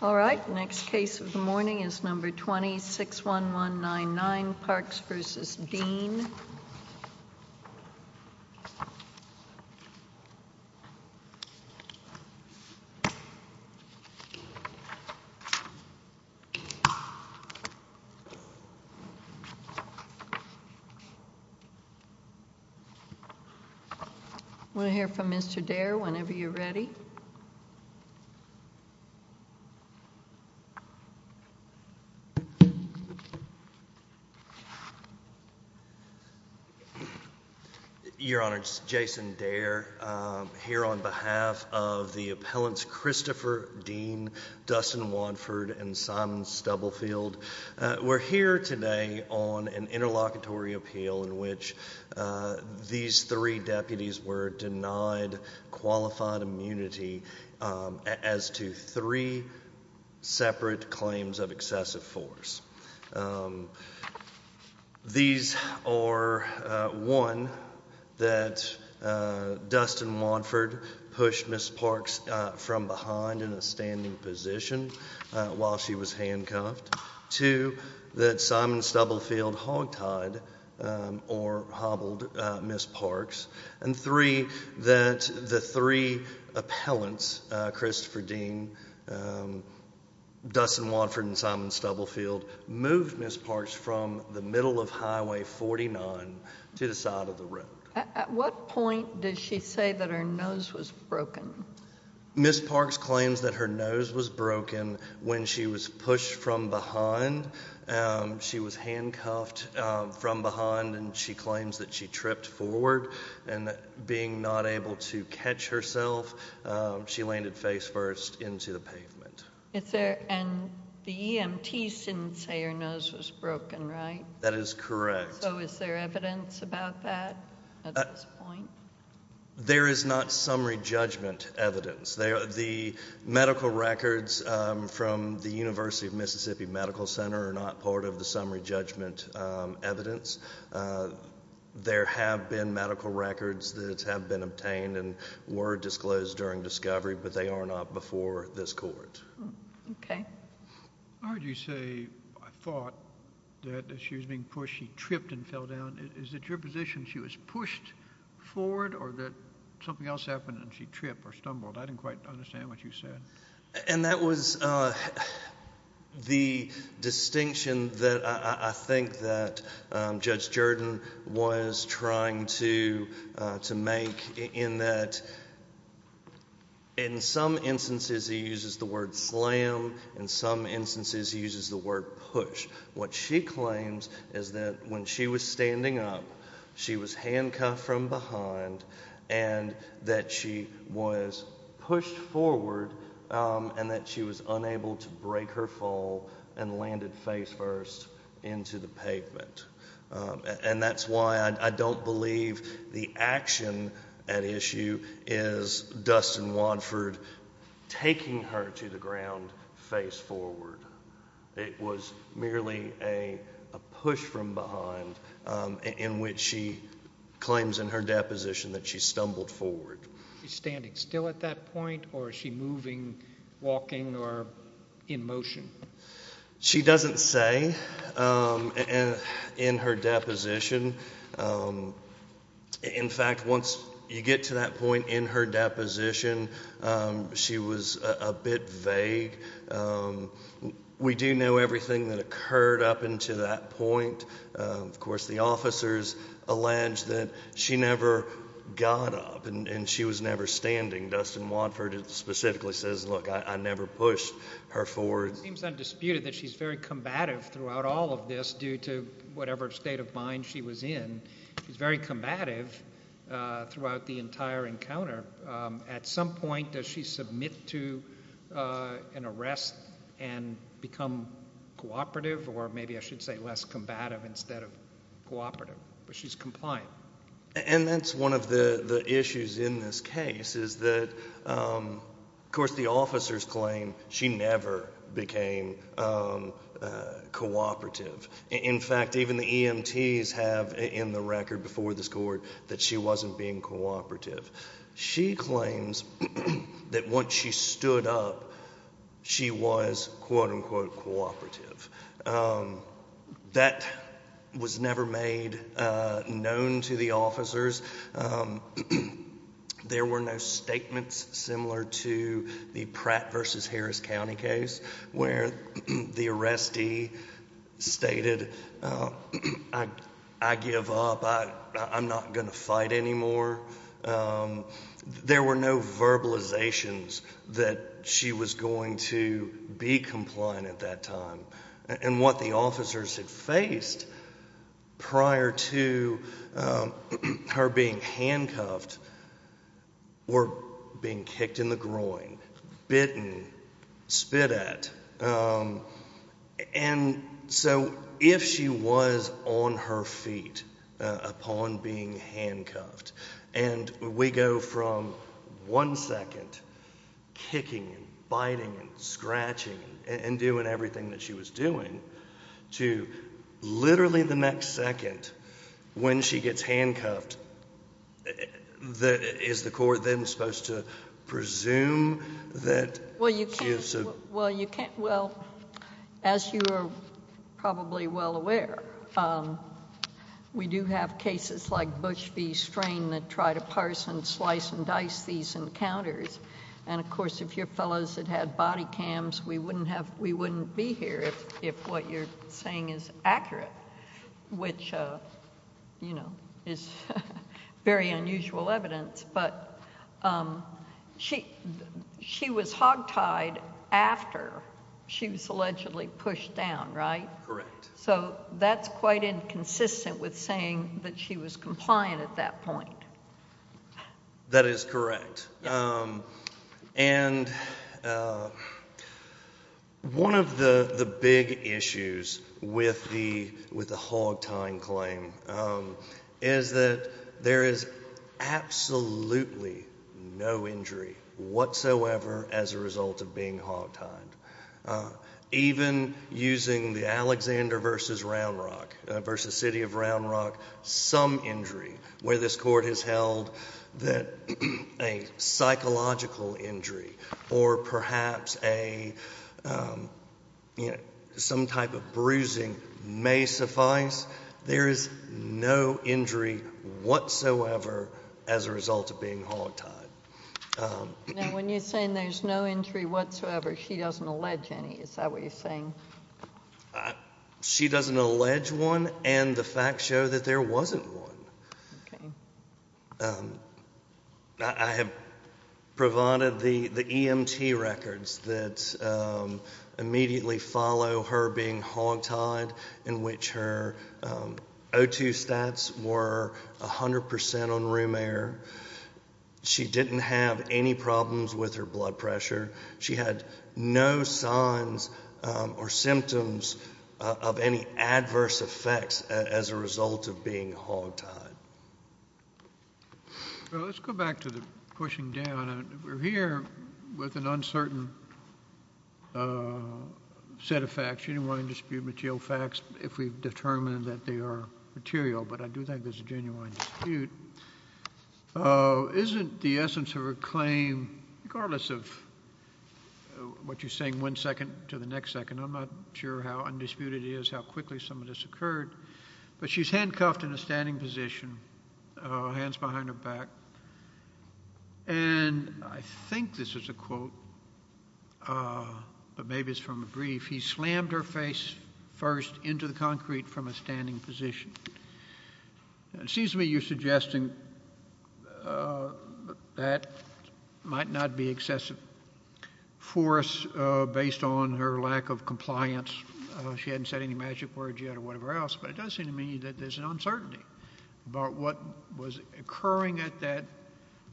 All right, next case of the morning is number 26-1199, Parks v. Dean. I want to hear from Mr. Dare whenever you're ready. Your Honor, it's Jason Dare here on behalf of the appellants Christopher Dean, Dustin Wanford and Simon Stubblefield. We're here today on an interlocutory appeal in which these three deputies were denied qualified immunity as to three separate claims of excessive force. These are, one, that Dustin Wanford pushed Ms. Parks from behind in a standing position while she was handcuffed, two, that Simon Stubblefield hogtied or hobbled Ms. Parks, and three, that the three appellants, Christopher Dean, Dustin Wanford, and Simon Stubblefield moved Ms. Parks from the middle of Highway 49 to the side of the road. At what point did she say that her nose was broken? Ms. Parks claims that her nose was broken when she was pushed from behind. She was handcuffed from behind and she claims that she tripped forward and being not able to catch herself, she landed face first into the pavement. And the EMTs didn't say her nose was broken, right? That is correct. So is there evidence about that at this point? There is not summary judgment evidence. The medical records from the University of Mississippi Medical Center are not part of the summary judgment evidence. There have been medical records that have been obtained and were disclosed during discovery, but they are not before this court. Okay. I heard you say, I thought, that as she was being pushed, she tripped and fell down. Is it your position she was pushed forward or that something else happened and she tripped or stumbled? I didn't quite understand what you said. And that was the distinction that I think that Judge Jordan was trying to make in that in some instances he uses the word slam, in some instances he uses the word push. What she claims is that when she was standing up, she was handcuffed from behind and that she was pushed forward and that she was unable to break her fall and landed face first into the pavement. And that's why I don't believe the action at issue is Dustin Wadford taking her to the ground face forward. It was merely a push from behind in which she claims in her deposition that she stumbled forward. Is she standing still at that point or is she moving, walking, or in motion? She doesn't say in her deposition. In fact, once you get to that point in her deposition, she was a bit vague. We do know everything that occurred up until that point. Of course, the officers allege that she never got up and she was never standing. Dustin Wadford specifically says, look, I never pushed her forward. It seems undisputed that she's very combative throughout all of this due to whatever state of mind she was in. She's very combative throughout the entire encounter. At some point, does she submit to an arrest and become cooperative or maybe I should say less combative instead of cooperative, but she's compliant. And that's one of the issues in this case is that, of course, the officers claim she never became cooperative. In fact, even the EMTs have in the record before this court that she wasn't being cooperative. She claims that once she stood up, she was, quote, unquote, cooperative. That was never made known to the officers. There were no statements similar to the Pratt v. Harris County case where the arrestee stated, I give up, I'm not going to fight anymore. There were no verbalizations that she was going to be compliant at that time. And what the officers had faced prior to her being handcuffed or being kicked in the groin, bitten, spit at. And so if she was on her feet upon being handcuffed, and we go from one second kicking and biting and scratching and doing everything that she was doing to literally the next second when she gets handcuffed, is the court then supposed to presume that she is? Well, as you are probably well aware, we do have cases like Bush v. Strain that try to parse and slice and dice these encounters. And of course, if your fellows had had body cams, we wouldn't be here if what you're saying is accurate, which is very unusual evidence. But she was hogtied after she was allegedly pushed down, right? Correct. So that's quite inconsistent with saying that she was compliant at that point. That is correct. And one of the big issues with the hogtying claim is that there is absolutely no injury whatsoever as a result of being hogtied. Even using the Alexander v. Round Rock, v. City of Round Rock, some injury where this court has held that a psychological injury or perhaps some type of bruising may suffice. There is no injury whatsoever as a result of being hogtied. Now, when you're saying there's no injury whatsoever, she doesn't allege any, is that what you're saying? She doesn't allege one, and the facts show that there wasn't one. Okay. I have provided the EMT records that immediately follow her being hogtied, in which her O2 stats were 100% on room air. She didn't have any problems with her blood pressure. She had no signs or symptoms of any of that. Well, let's go back to the pushing down. We're here with an uncertain set of facts. You don't want to dispute material facts if we've determined that they are material. But I do think there's a genuine dispute. Isn't the essence of her claim, regardless of what you're saying one second to the next second. I'm not sure how undisputed it is, how quickly some of this occurred. But she's handcuffed in a standing position, hands behind her back. And I think this is a quote, but maybe it's from a brief. He slammed her face first into the concrete from a standing position. And it seems to me you're suggesting that might not be excessive force based on her lack of compliance. She hadn't said any magic words yet or whatever else. But it does seem to me that there's an uncertainty about what was occurring at that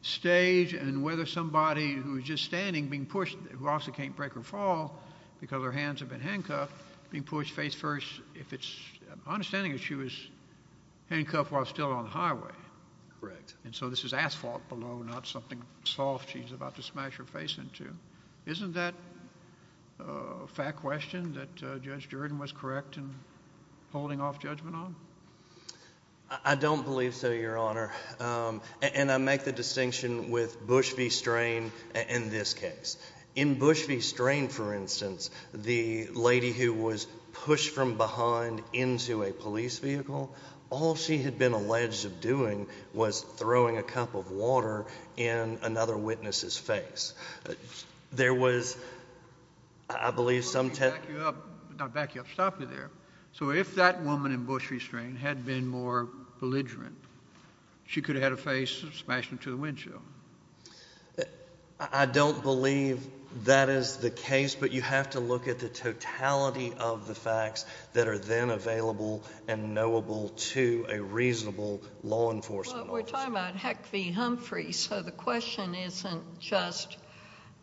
stage. And whether somebody who was just standing being pushed, who obviously can't break or fall because her hands have been handcuffed, being pushed face first. If it's, my understanding is she was handcuffed while still on the highway. Correct. And so this is asphalt below, not something soft she's about to smash her face into. Isn't that a fact question that Judge Jordan was correct in holding off judgment on? I don't believe so, Your Honor. And I make the distinction with Bush v. Strain in this case. In Bush v. Strain, for instance, the lady who was pushed from behind into a police vehicle, all she had been alleged of doing was throwing a cup of water in another witness's face. There was, I believe, some- Let me back you up, not back you up, stop you there. So if that woman in Bush v. Strain had been more belligerent, she could have had her face smashed into the windshield. I don't believe that is the case, but you have to look at the totality of the facts that are then available and knowable to a reasonable law enforcement officer. We're talking about Heck v. Humphrey, so the question isn't just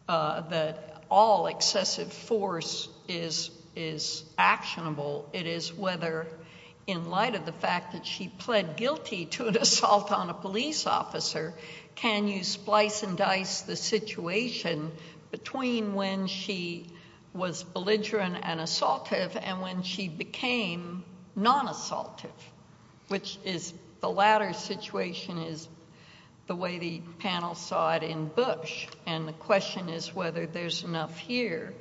that all excessive force is actionable. It is whether, in light of the fact that she pled guilty to an assault on a police officer, can you splice and dice the situation between when she was belligerent and assaultive and when she became non-assaultive? Which is, the latter situation is the way the panel saw it in Bush, and the question is whether there's enough here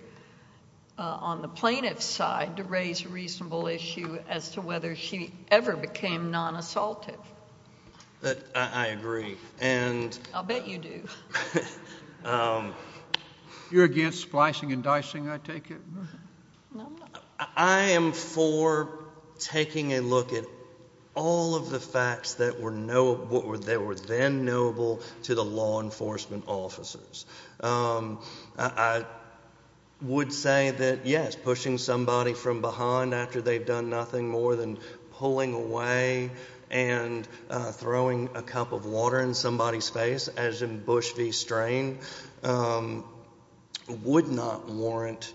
on the plaintiff's side to raise a reasonable issue as to whether she ever became non-assaultive. But I agree, and- I'll bet you do. You're against splicing and dicing, I take it? No, I'm not. I am for taking a look at all of the facts that were then knowable to the law enforcement officers. I would say that, yes, pushing somebody from behind after they've done nothing more than pulling away and throwing a cup of water in somebody's face, as in Bush v. Strain, would not warrant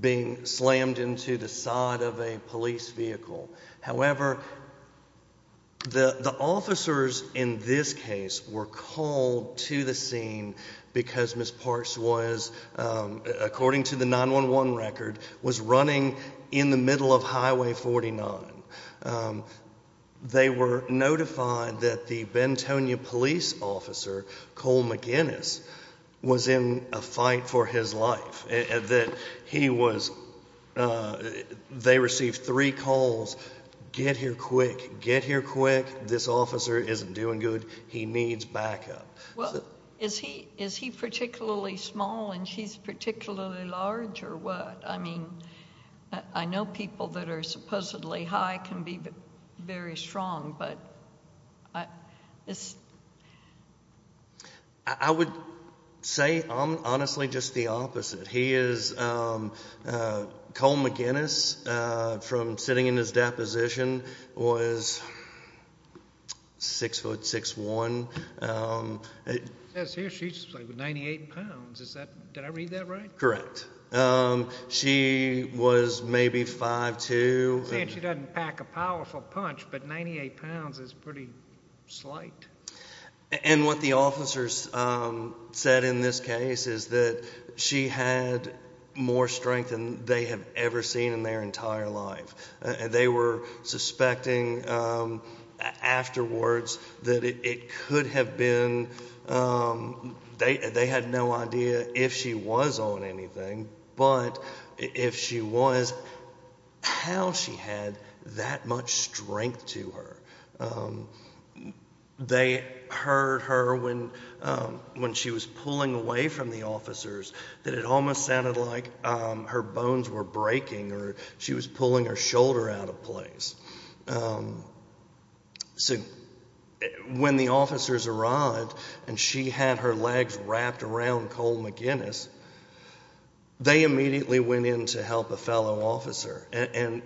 being slammed into the side of a police vehicle. However, the officers in this case were called to the scene because Ms. Parks was, according to the 911 record, was running in the middle of Highway 49. They were notified that the Bentonia police officer, Cole McGinnis, was in a fight for his life. That he was, they received three calls, get here quick, get here quick, this officer isn't doing good, he needs backup. Well, is he particularly small and she's particularly large or what? I mean, I know people that are supposedly high can be very strong, but this- I would say, honestly, just the opposite. He is, Cole McGinnis, from sitting in his deposition, was six foot six one. Says here she's 98 pounds, is that, did I read that right? Correct. She was maybe five two. You're saying she doesn't pack a powerful punch, but 98 pounds is pretty slight. And what the officers said in this case is that she had more strength than they have ever seen in their entire life. They were suspecting afterwards that it could have been, they had no idea if she was on anything, but if she was, how she had that much strength to her. They heard her when she was pulling away from the officers, that it almost sounded like her bones were breaking or she was pulling her shoulder out of place. So when the officers arrived and she had her legs wrapped around Cole McGinnis, they immediately went in to help a fellow officer and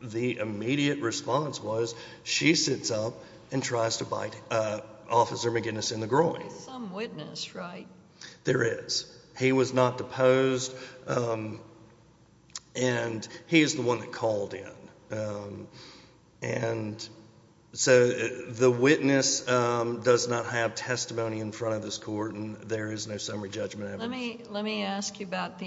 the immediate response was she sits up and tries to bite Officer McGinnis in the groin. Some witness, right? There is. He was not deposed and he is the one that called in. And so the witness does not have testimony in front of this court and there is no summary judgment. Let me ask you about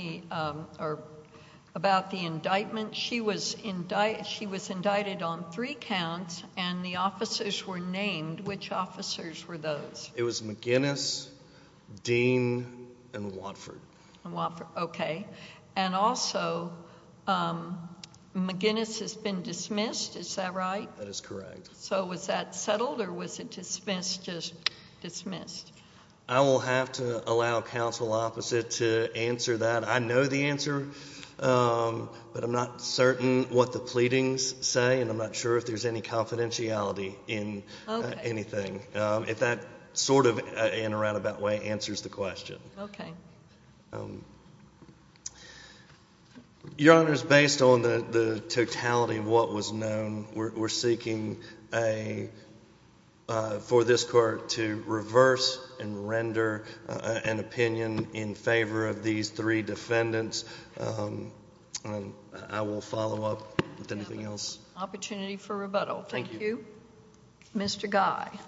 the indictment. She was indicted on three counts and the officers were named. Which officers were those? It was McGinnis, Dean and Watford. Okay, and also McGinnis has been dismissed. Is that right? That is correct. So was that settled or was it dismissed just dismissed? I will have to allow counsel opposite to answer that. I know the answer, but I'm not certain what the pleadings say and I'm not sure if there's any confidentiality in anything. If that sort of in a roundabout way answers the question. Okay. Your Honor is based on the totality of what was known. We're seeking a for this court to reverse and render an opinion in favor of these three defendants. I will follow up with anything else. Opportunity for rebuttal. Thank you, Mr. Guy. Thank you.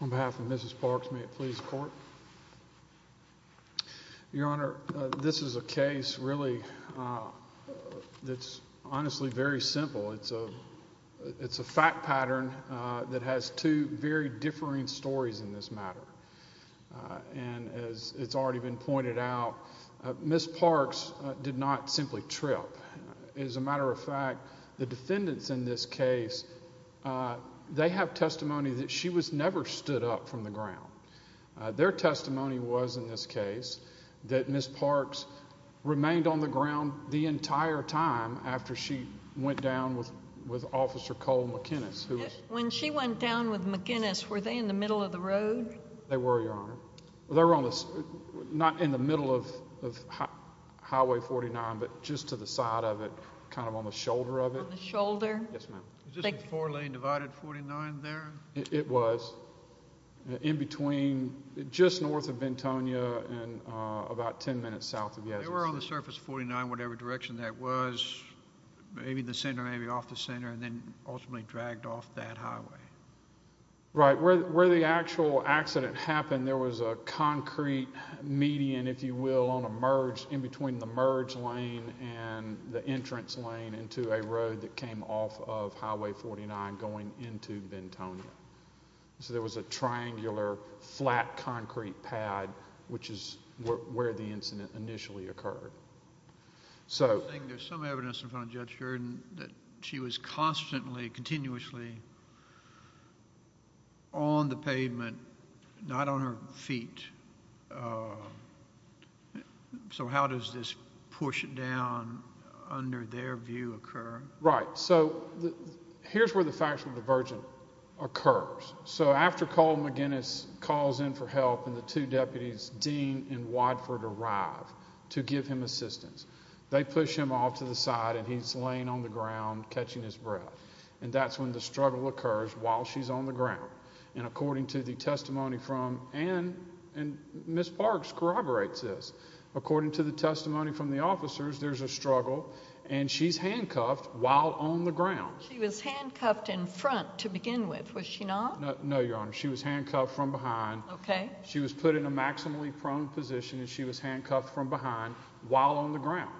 On behalf of Mrs. Parks, may it please the court. Your Honor, this is a case really that's honestly very simple. It's a fact pattern that has two very differing stories in this matter. And as it's already been pointed out, Ms. Parks did not simply trip. As a matter of fact, the defendants in this case, they have testimony that she was never stood up from the ground. Their testimony was in this case that Ms. Parks remained on the ground the entire time after she went down with Officer Cole McGinnis. When she went down with McGinnis, were they in the middle of the road? They were, Your Honor. They were not in the middle of Highway 49, but just to the side of it, kind of on the shoulder of it. On the shoulder? Yes, ma'am. Was this a four-lane divided 49 there? It was. In between, just north of Ventonia and about 10 minutes south of Yazoo City. They were on the surface of 49, whatever direction that was. Maybe the center, maybe off the center, and then ultimately dragged off that highway. Right. Where the actual accident happened, there was a concrete median, if you will, on a merge in between the merge lane and the entrance lane into a road that came off of Highway 49 going into Ventonia. There was a triangular, flat concrete pad, which is where the incident initially occurred. I think there's some evidence in front of Judge Jordan that she was constantly, continuously on the pavement, not on her feet. How does this push down under their view occur? Right. Here's where the factual divergent occurs. After Cole McGinnis calls in for help and the two deputies, Dean and Wadford, arrive to give him assistance, they push him off to the side and he's laying on the ground catching his breath. That's when the struggle occurs while she's on the ground. According to the testimony from, and Ms. Parks corroborates this, according to the testimony from the officers, there's a struggle and she's handcuffed while on the ground. She was handcuffed in front to begin with, was she not? No, Your Honor. She was handcuffed from behind. Okay. She was put in a maximally prone position and she was handcuffed from behind while on the ground.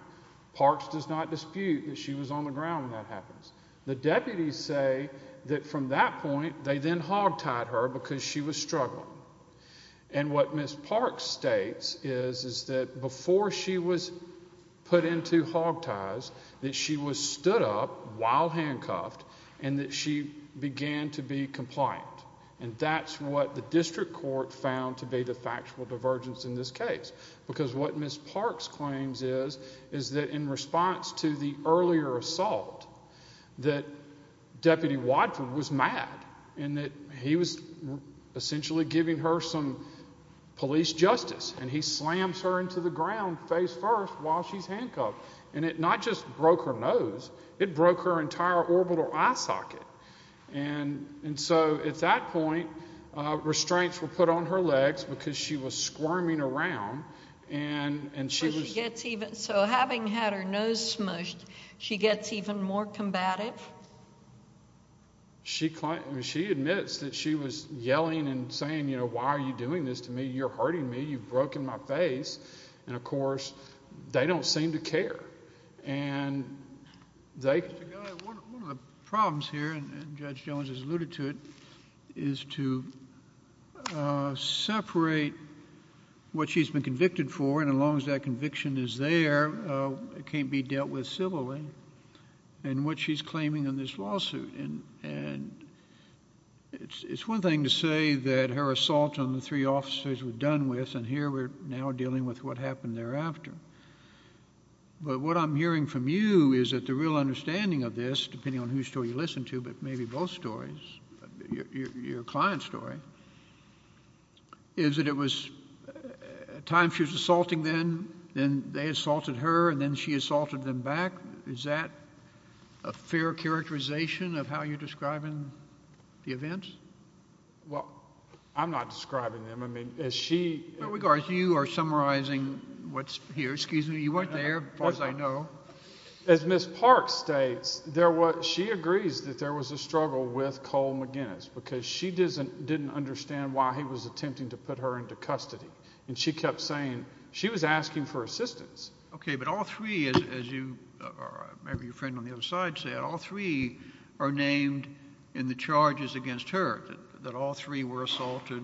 Parks does not dispute that she was on the ground when that happens. The deputies say that from that point, they then hog tied her because she was struggling. And what Ms. Parks states is that before she was put into hog ties, that she was stood up while handcuffed and that she began to be compliant. And that's what the district court found to be the factual divergence in this case. Because what Ms. Parks claims is, is that in response to the earlier assault, that Deputy Wadford was mad and that he was essentially giving her some police justice and he slams her into the ground face first while she's handcuffed. And it not just broke her nose, it broke her entire orbital eye socket. And, and so at that point, restraints were put on her legs because she was squirming around and, and she was- So she gets even, so having had her nose smushed, she gets even more combative? She, she admits that she was yelling and saying, you know, why are you doing this to me? You're hurting me. You've broken my face. And of course, they don't seem to care. And one of the problems here, and Judge Jones has alluded to it, is to separate what she's been convicted for. And as long as that conviction is there, it can't be dealt with civilly. And what she's claiming in this lawsuit. And, and it's, it's one thing to say that her assault on the three officers were done with, and here we're now dealing with what happened thereafter. But what I'm hearing from you is that the real understanding of this, depending on whose story you listen to, but maybe both stories, your, your client's story, is that it was at times she was assaulting them, then they assaulted her, and then she assaulted them back. Is that a fair characterization of how you're describing the events? Well, I'm not describing them. I mean, as she- You are summarizing what's here. Excuse me. You weren't there, as far as I know. As Ms. Park states, there was, she agrees that there was a struggle with Cole McGinnis, because she doesn't, didn't understand why he was attempting to put her into custody. And she kept saying, she was asking for assistance. Okay, but all three, as you, or maybe your friend on the other side said, all three are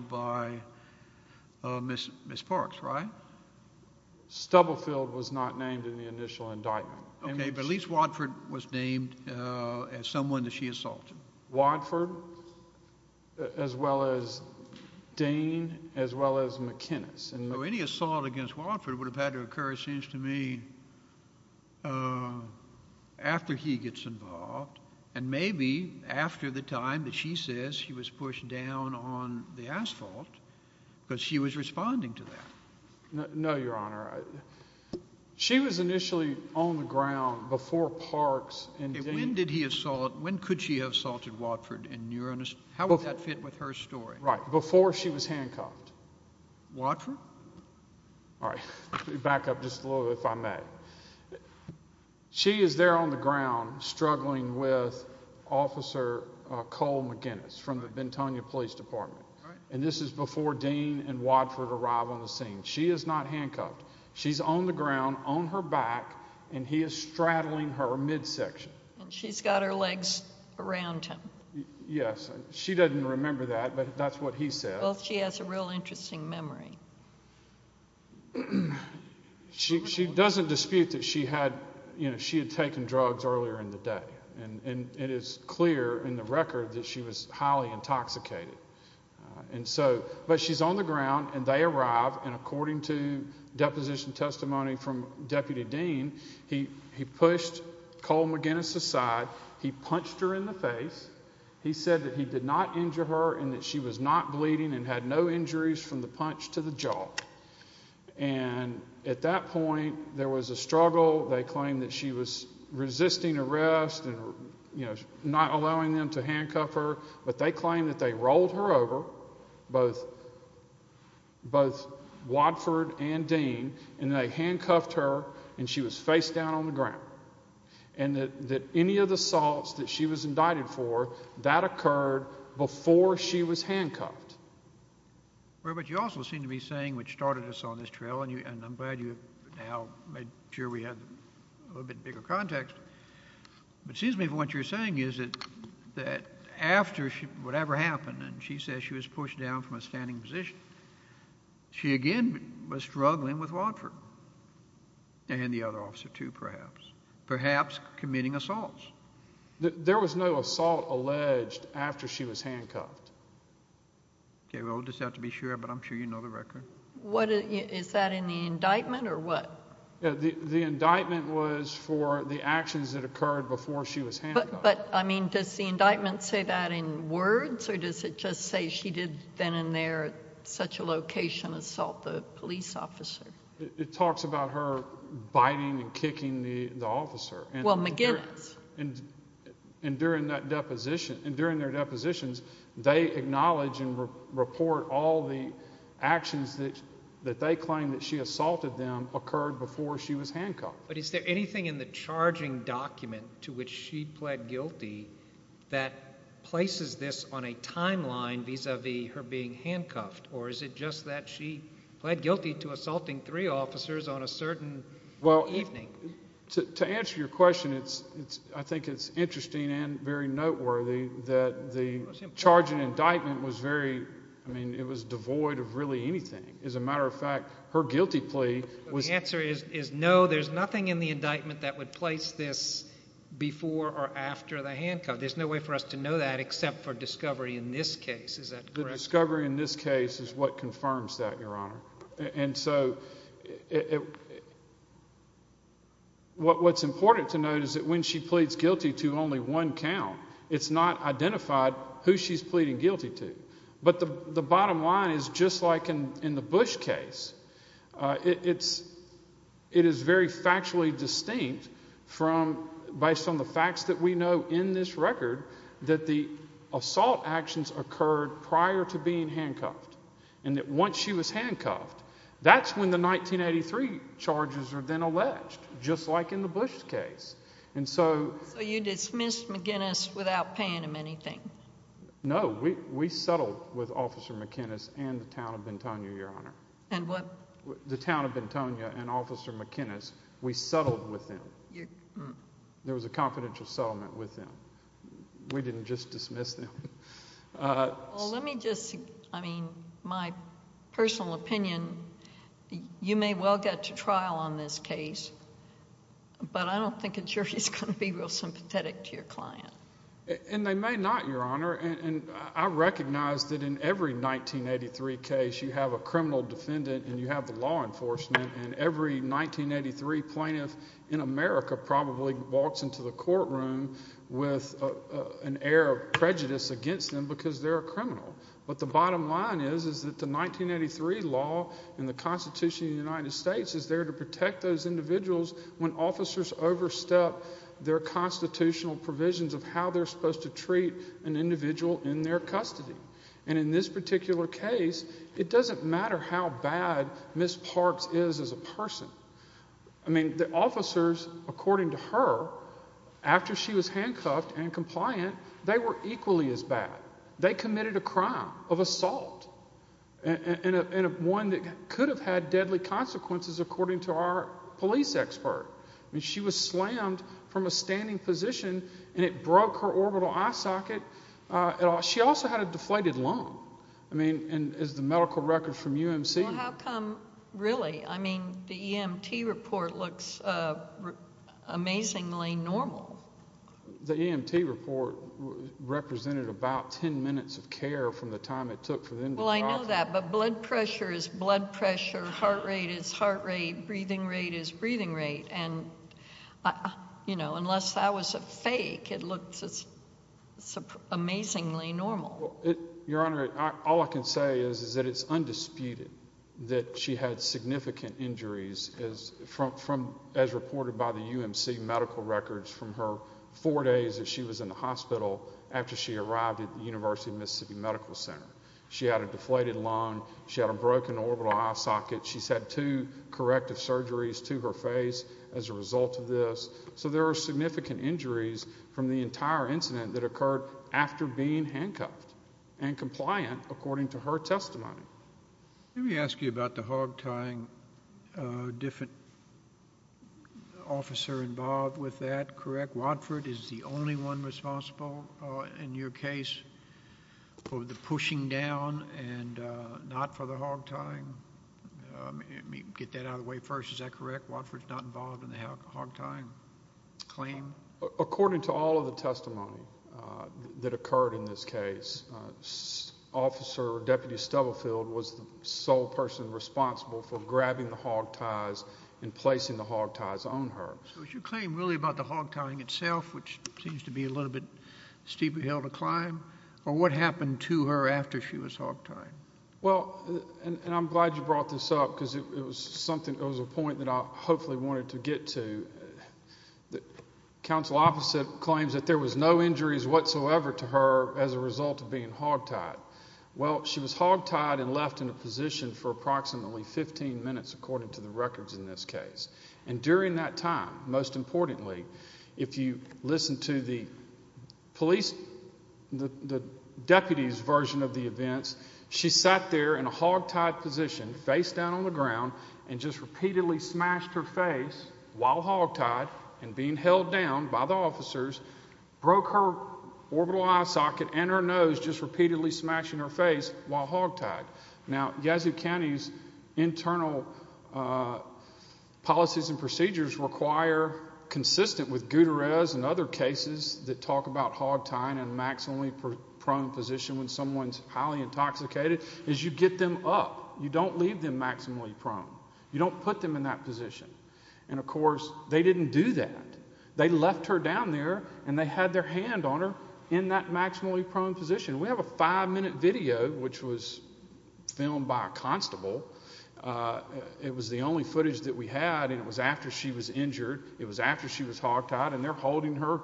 by Ms. Park, right? Stubblefield was not named in the initial indictment. Okay, but at least Wadford was named as someone that she assaulted. Wadford, as well as Dane, as well as McGinnis. And any assault against Wadford would have had to occur, it seems to me, after he gets involved. And maybe after the time that she says he was pushed down on the asphalt, because she was responding to that. No, Your Honor. She was initially on the ground before Parks and Dane- When did he assault, when could she have assaulted Wadford? And you're, how would that fit with her story? Right, before she was handcuffed. Wadford? All right, let me back up just a little, if I may. She is there on the ground, struggling with Officer Cole McGinnis from the Bentonnia Police Department. And this is before Dane and Wadford arrive on the scene. She is not handcuffed. She's on the ground, on her back, and he is straddling her midsection. And she's got her legs around him. Yes, she doesn't remember that, but that's what he said. Well, she has a real interesting memory. Well, she doesn't dispute that she had, you know, she had taken drugs earlier in the day. And it is clear in the record that she was highly intoxicated. And so, but she's on the ground and they arrive, and according to deposition testimony from Deputy Dean, he pushed Cole McGinnis aside. He punched her in the face. He said that he did not injure her and that she was not bleeding and had no injuries from the punch to the jaw. And at that point, there was a struggle. They claimed that she was resisting arrest and, you know, not allowing them to handcuff her. But they claimed that they rolled her over, both Wadford and Dane, and they handcuffed her and she was face down on the ground. And that any of the assaults that she was indicted for, that occurred before she was handcuffed. Well, but you also seem to be saying, which started us on this trail, and I'm glad you have now made sure we have a little bit bigger context, but it seems to me that what you're saying is that after whatever happened, and she says she was pushed down from a standing position, she again was struggling with Wadford and the other officer, too, perhaps. Perhaps committing assaults. There was no assault alleged after she was handcuffed. OK, we'll just have to be sure, but I'm sure you know the record. Is that in the indictment or what? The indictment was for the actions that occurred before she was handcuffed. But, I mean, does the indictment say that in words or does it just say she did then and there at such a location assault the police officer? It talks about her biting and kicking the officer. Well, McGinnis. And during that deposition, and during their depositions, they acknowledge and report all the actions that they claim that she assaulted them occurred before she was handcuffed. But is there anything in the charging document to which she pled guilty that places this on a timeline vis-a-vis her being handcuffed? Or is it just that she pled guilty to assaulting three officers on a certain evening? To answer your question, I think it's interesting and very noteworthy that the charging indictment was very, I mean, it was devoid of really anything. As a matter of fact, her guilty plea was... The answer is no, there's nothing in the indictment that would place this before or after the handcuff. There's no way for us to know that except for discovery in this case. Is that correct? The discovery in this case is what confirms that, Your Honor. And so what's important to note is that when she pleads guilty to only one count, it's not identified who she's pleading guilty to. But the bottom line is just like in the Bush case, it is very factually distinct based on the facts that we know in this record that the assault actions occurred prior to being handcuffed. And that once she was handcuffed, that's when the 1983 charges are then alleged, just like in the Bush case. And so... So you dismissed McInnes without paying him anything? No, we settled with Officer McInnes and the town of Bentonia, Your Honor. And what... The town of Bentonia and Officer McInnes, we settled with them. There was a confidential settlement with them. We didn't just dismiss them. Well, let me just... I mean, my personal opinion, you may well get to trial on this case, but I don't think a jury is going to be real sympathetic to your client. And they may not, Your Honor. And I recognize that in every 1983 case, you have a criminal defendant and you have the law enforcement. And every 1983 plaintiff in America probably walks into the courtroom with an air of prejudice against them because they're a criminal. But the bottom line is, is that the 1983 law in the Constitution of the United States is there to protect those individuals when officers overstep their constitutional provisions of how they're supposed to treat an individual in their custody. And in this particular case, it doesn't matter how bad Ms. Parks is as a person. I mean, the officers, according to her, after she was handcuffed and compliant, they were equally as bad. They committed a crime of assault and one that could have had deadly consequences, according to our police expert. I mean, she was slammed from a standing position and it broke her orbital eye socket. She also had a deflated lung, I mean, and is the medical record from UMC. Well, how come, really? I mean, the EMT report looks amazingly normal. The EMT report represented about 10 minutes of care from the time it took for them. Well, I know that. But blood pressure is blood pressure. Heart rate is heart rate. Breathing rate is breathing rate. And, you know, unless that was a fake, it looks amazingly normal. Your Honor, all I can say is that it's undisputed that she had significant injuries from as reported by the UMC medical records from her four days that she was in the hospital after she arrived at the University of Mississippi Medical Center. She had a deflated lung. She had a broken orbital eye socket. She's had two corrective surgeries to her face as a result of this. So there are significant injuries from the entire incident that occurred after being handcuffed and compliant, according to her testimony. Let me ask you about the hog tying. Different officer involved with that, correct? Watford is the only one responsible in your case for the pushing down and not for the hog tying? Get that out of the way first. Is that correct? Watford's not involved in the hog tying claim? According to all of the testimony that occurred in this case, Officer Deputy Stubblefield was the sole person responsible for grabbing the hog ties and placing the hog ties on her. So is your claim really about the hog tying itself, which seems to be a little bit steeper hill to climb, or what happened to her after she was hog tied? Well, and I'm glad you brought this up because it was something, it was a point that I hopefully wanted to get to. The counsel opposite claims that there was no injuries whatsoever to her as a result of being hog tied. Well, she was hog tied and left in a position for approximately 15 minutes, according to the records in this case. And during that time, most importantly, if you listen to the police, the deputy's version of the events, she sat there in a hog tied position, face down on the ground, and just repeatedly smashed her face while hog tied, and being held down by the officers, broke her orbital eye socket and her nose just repeatedly smashing her face while hog tied. Now, Yazoo County's internal policies and procedures require, consistent with Gutierrez and other cases that talk about hog tying and maximally prone position when someone's highly intoxicated, is you get them up. You don't leave them maximally prone. You don't put them in that position. And of course, they didn't do that. They left her down there and they had their hand on her in that maximally prone position. We have a five minute video, which was filmed by a constable. It was the only footage that we had, and it was after she was injured. It was after she was hog tied, and they're holding her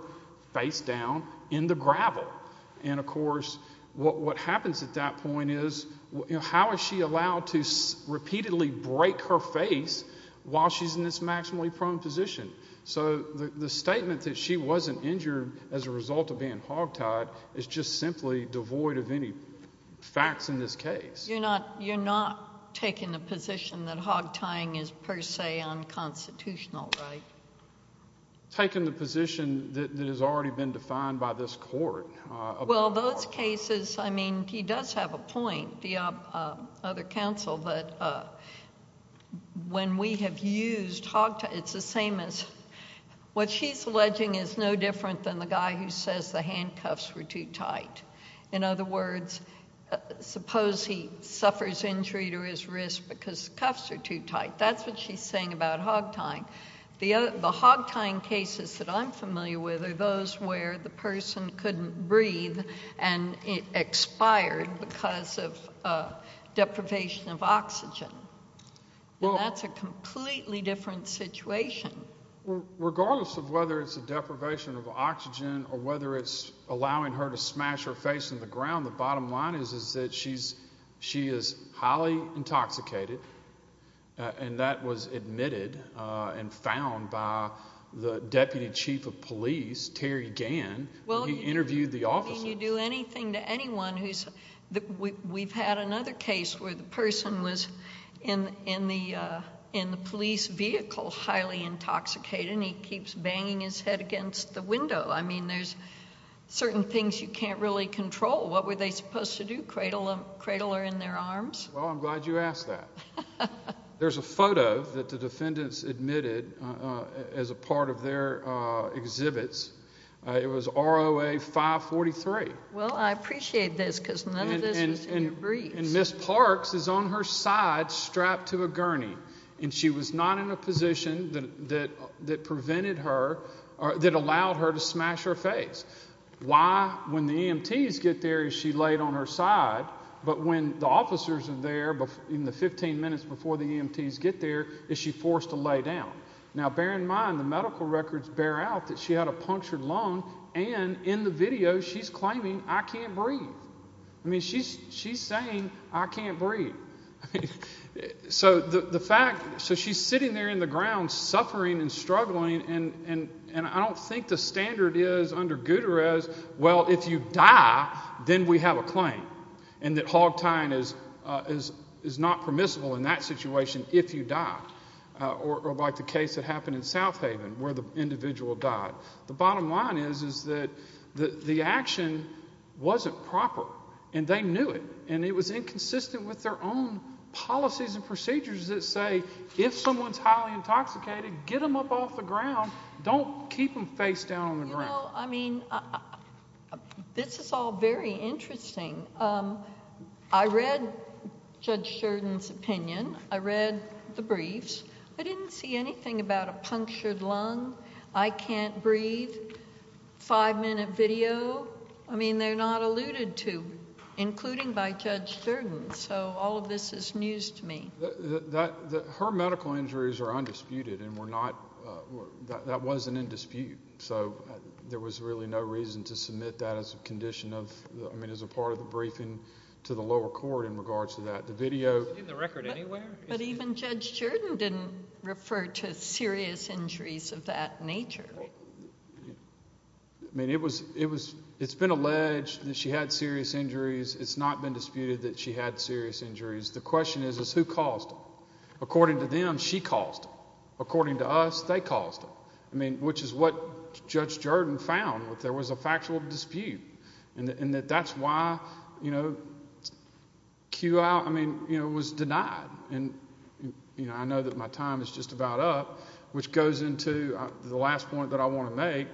face down in the gravel. And of course, what happens at that point is, how is she allowed to repeatedly break her face while she's in this maximally prone position? So the statement that she wasn't injured as a result of being hog tied is just simply devoid of any facts in this case. You're not taking the position that hog tying is per se unconstitutional, right? Taking the position that has already been defined by this court. Well, those cases, I mean, he does have a point, the other counsel, that when we have used hog tying, it's the same as... What she's alleging is no different than the guy who says the handcuffs were too tight. In other words, suppose he suffers injury to his wrist because the cuffs are too tight. That's what she's saying about hog tying. The hog tying cases that I'm familiar with are those where the person couldn't breathe and it expired because of deprivation of oxygen. That's a completely different situation. Regardless of whether it's a deprivation of oxygen or whether it's allowing her to smash her face in the ground, the bottom line is that she is highly intoxicated, and that was admitted and found by the Deputy Chief of Police, Terry Gann. Well, if you do anything to anyone who's... We've had another case where the person was in the police vehicle, highly intoxicated, and he keeps banging his head against the window. I mean, there's certain things you can't really control. What were they supposed to do, cradle her in their arms? Well, I'm glad you asked that. There's a photo that the defendants admitted as a part of their exhibits. It was ROA 543. Well, I appreciate this because none of this was in your briefs. And Ms. Parks is on her side strapped to a gurney, and she was not in a position that prevented her or that allowed her to smash her face. Why, when the EMTs get there, is she laid on her side? But when the officers are there, in the 15 minutes before the EMTs get there, is she forced to lay down? Now, bear in mind, the medical records bear out that she had a punctured lung, and in the video, she's claiming, I can't breathe. I mean, she's saying, I can't breathe. So the fact... So she's sitting there in the ground, suffering and struggling, and I don't think the standard is under Gutierrez, well, if you die, then we have a claim, and that hog tying is not permissible in that situation if you die, or like the case that happened in South Haven, where the individual died. The bottom line is that the action wasn't proper, and they knew it, and it was inconsistent with their own policies and procedures that say, if someone's highly intoxicated, get them up off the ground. Don't keep them face down on the ground. You know, I mean, this is all very interesting. I read Judge Sheridan's opinion. I read the briefs. I didn't see anything about a punctured lung, I can't breathe, five minute video. I mean, they're not alluded to, including by Judge Sheridan. So all of this is news to me. That, her medical injuries are undisputed, and were not, that wasn't in dispute. So there was really no reason to submit that as a condition of, I mean, as a part of the briefing to the lower court in regards to that. The video- In the record anywhere? But even Judge Sheridan didn't refer to serious injuries of that nature. I mean, it was, it's been alleged that she had serious injuries. It's not been disputed that she had serious injuries. The question is, is who caused it? According to them, she caused it. According to us, they caused it. I mean, which is what Judge Sheridan found, that there was a factual dispute. And that that's why, you know, QI, I mean, you know, was denied. And, you know, I know that my time is just about up, which goes into the last point that I want to make.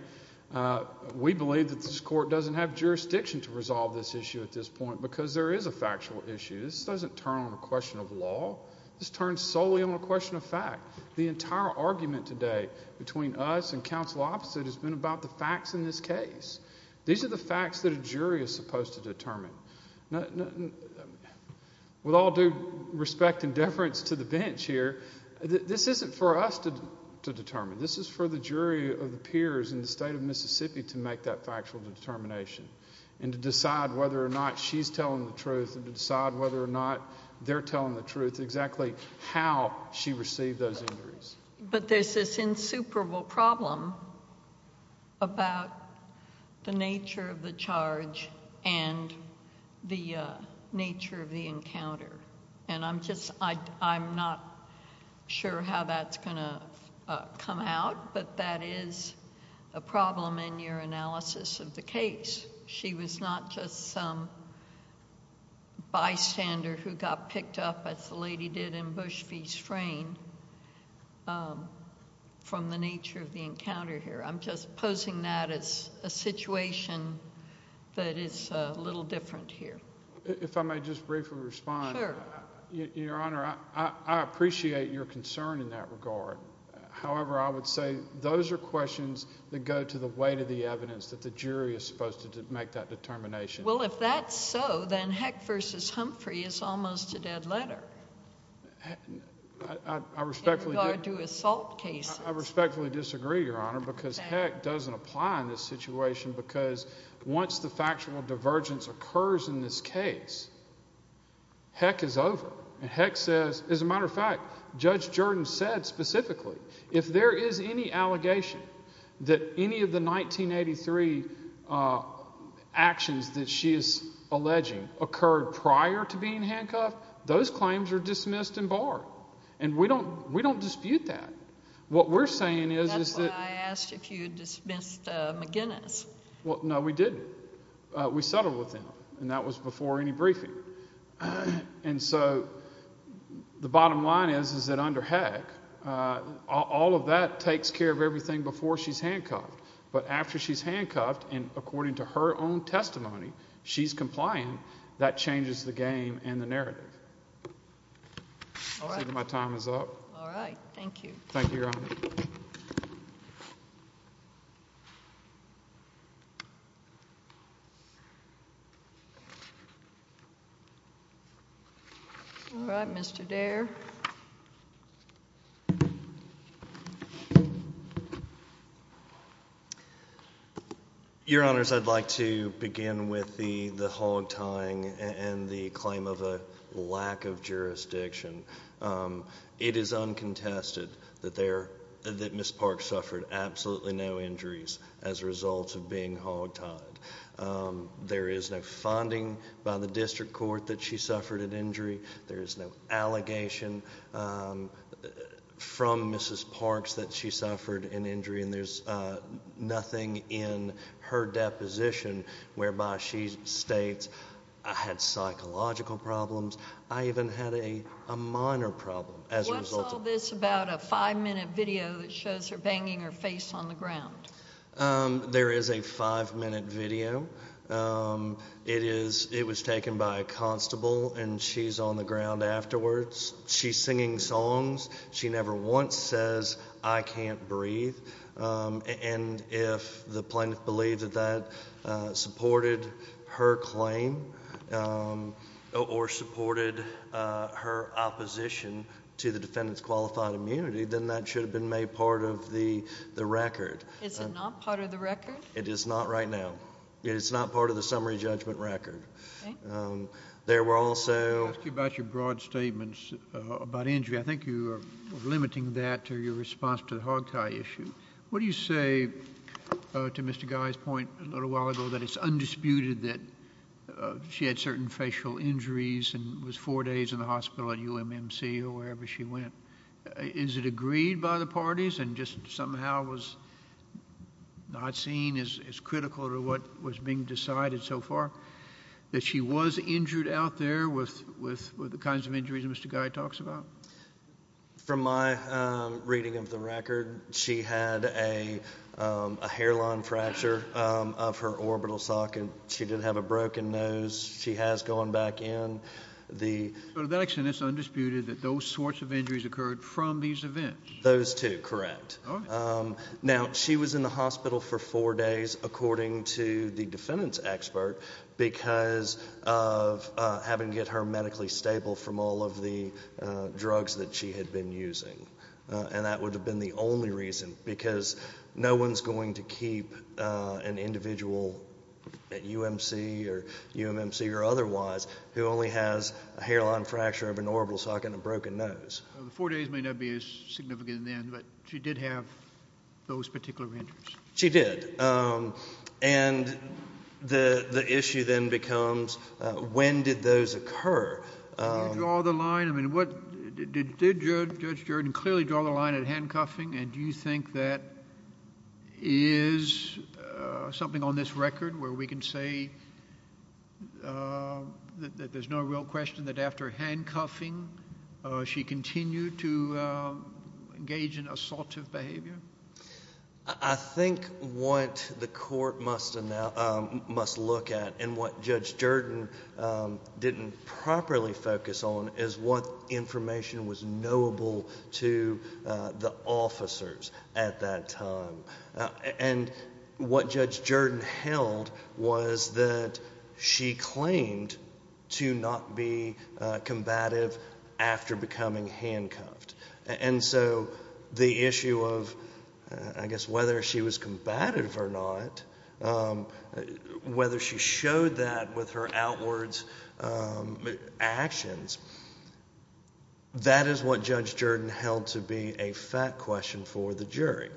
We believe that this court doesn't have jurisdiction to resolve this issue at this point, because there is a factual issue. This doesn't turn on a question of law. This turns solely on a question of fact. The entire argument today between us and counsel opposite has been about the facts in this case. These are the facts that a jury is supposed to determine. With all due respect and deference to the bench here, this isn't for us to determine. This is for the jury of the peers in the state of Mississippi to make that factual determination. And to decide whether or not she's telling the truth and to decide whether or not they're telling the truth, exactly how she received those injuries. But there's this insuperable problem about the nature of the charge and the nature of the encounter. And I'm just, I'm not sure how that's going to come out. But that is a problem in your analysis of the case. She was not just some bystander who got picked up, as the lady did in Bush v. Strain, from the nature of the encounter here. I'm just posing that as a situation that is a little different here. If I may just briefly respond. Sure. Your Honor, I appreciate your concern in that regard. However, I would say those are questions that go to the weight of the evidence that the jury is supposed to make that determination. Well, if that's so, then Heck v. Humphrey is almost a dead letter. I respectfully disagree, Your Honor, because Heck doesn't apply in this situation. Because once the factual divergence occurs in this case, Heck is over. And Heck says, as a matter of fact, Judge Jordan said specifically, if there is any allegation that any of the 1983 actions that she is alleging occurred prior to being handcuffed, those claims are dismissed and barred. And we don't dispute that. What we're saying is that— That's why I asked if you dismissed McGinnis. Well, no, we didn't. We settled with him. And that was before any briefing. And so the bottom line is, is that under Heck, all of that takes care of everything before she's handcuffed. But after she's handcuffed, and according to her own testimony, she's compliant, that changes the game and the narrative. All right. My time is up. All right. Thank you. Thank you, Your Honor. All right. Mr. Dare. Your Honors, I'd like to begin with the hog tying and the claim of a lack of jurisdiction. It is uncontested that there—that Ms. Park suffered absolutely no injuries as a result of being hog tied. There is no funding by the district court that she suffered an injury. There is no allegation from Mrs. Parks that she suffered an injury. And there's nothing in her deposition whereby she states, I had psychological problems. I even had a minor problem as a result of that. What's all this about a five-minute video that shows her banging her face on the ground? There is a five-minute video. It was taken by a constable, and she's on the ground afterwards. She's singing songs. She never once says, I can't breathe. And if the plaintiff believed that that supported her claim or supported her opposition to the defendant's qualified immunity, then that should have been made part of the record. Is it not part of the record? It is not right now. It is not part of the summary judgment record. There were also— Let me ask you about your broad statements about injury. I think you are limiting that to your response to the hog tie issue. What do you say to Mr. Guy's point a little while ago that it's undisputed that she had certain facial injuries and was four days in the hospital at UMMC or wherever she went? Is it agreed by the parties and just somehow was not seen as critical to what was being decided so far that she was injured out there with the kinds of injuries Mr. Guy talks about? From my reading of the record, she had a hairline fracture of her orbital socket. She did have a broken nose. She has gone back in. To that extent, it's undisputed that those sorts of injuries occurred from these events? Those two, correct. She was in the hospital for four days according to the defendant's expert because of having to get her medically stable from all of the drugs that she had been using. That would have been the only reason because no one's going to keep an individual at UMMC or UMMC or otherwise who only has a hairline fracture of an orbital socket and a broken nose. The four days may not be as significant then, but she did have those particular injuries? She did. The issue then becomes when did those occur? Did Judge Jordan clearly draw the line at handcuffing and do you think that is something on this record where we can say that there's no real question that after handcuffing, she continued to engage in assaultive behavior? I think what the court must look at and what Judge Jordan didn't properly focus on is what and what Judge Jordan held was that she claimed to not be combative after becoming handcuffed. The issue of I guess whether she was combative or not, whether she showed that with her outwards actions, that is what Judge Jordan held to be a fact question for the jury.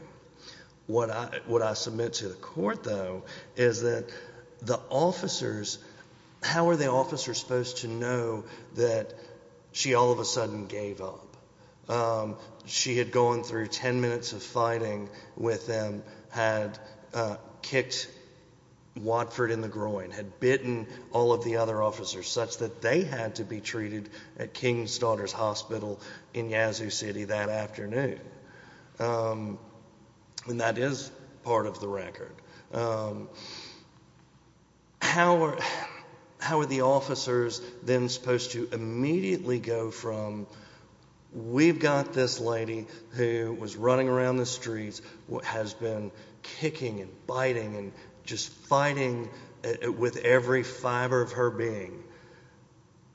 What I submit to the court though is that the officers, how are the officers supposed to know that she all of a sudden gave up? She had gone through 10 minutes of fighting with them, had kicked Watford in the groin, had bitten all of the other officers such that they had to be treated at King's Daughters Hospital in Yazoo City that afternoon. That is part of the record. How are the officers then supposed to immediately go from we've got this lady who was running around the streets, has been kicking and biting and just fighting with every fiber of her being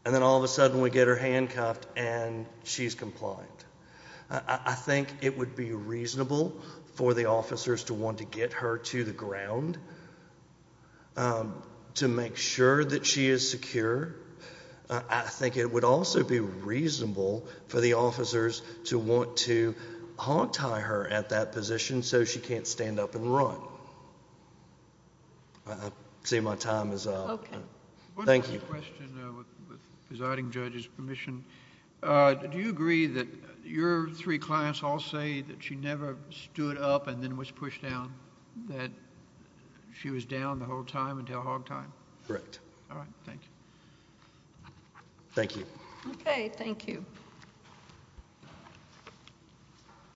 and then all of a sudden we get her handcuffed and she's compliant. I think it would be reasonable for the officers to want to get her to the ground to make sure that she is secure. I think it would also be reasonable for the officers to want to haunt her at that position so she can't stand up and run. I see my time is up. Thank you. Question with presiding judge's permission. Do you agree that your three clients all say that she never stood up and then was pushed down? That she was down the whole time until hog time? Correct. All right. Thank you. Thank you. Okay. Thank you.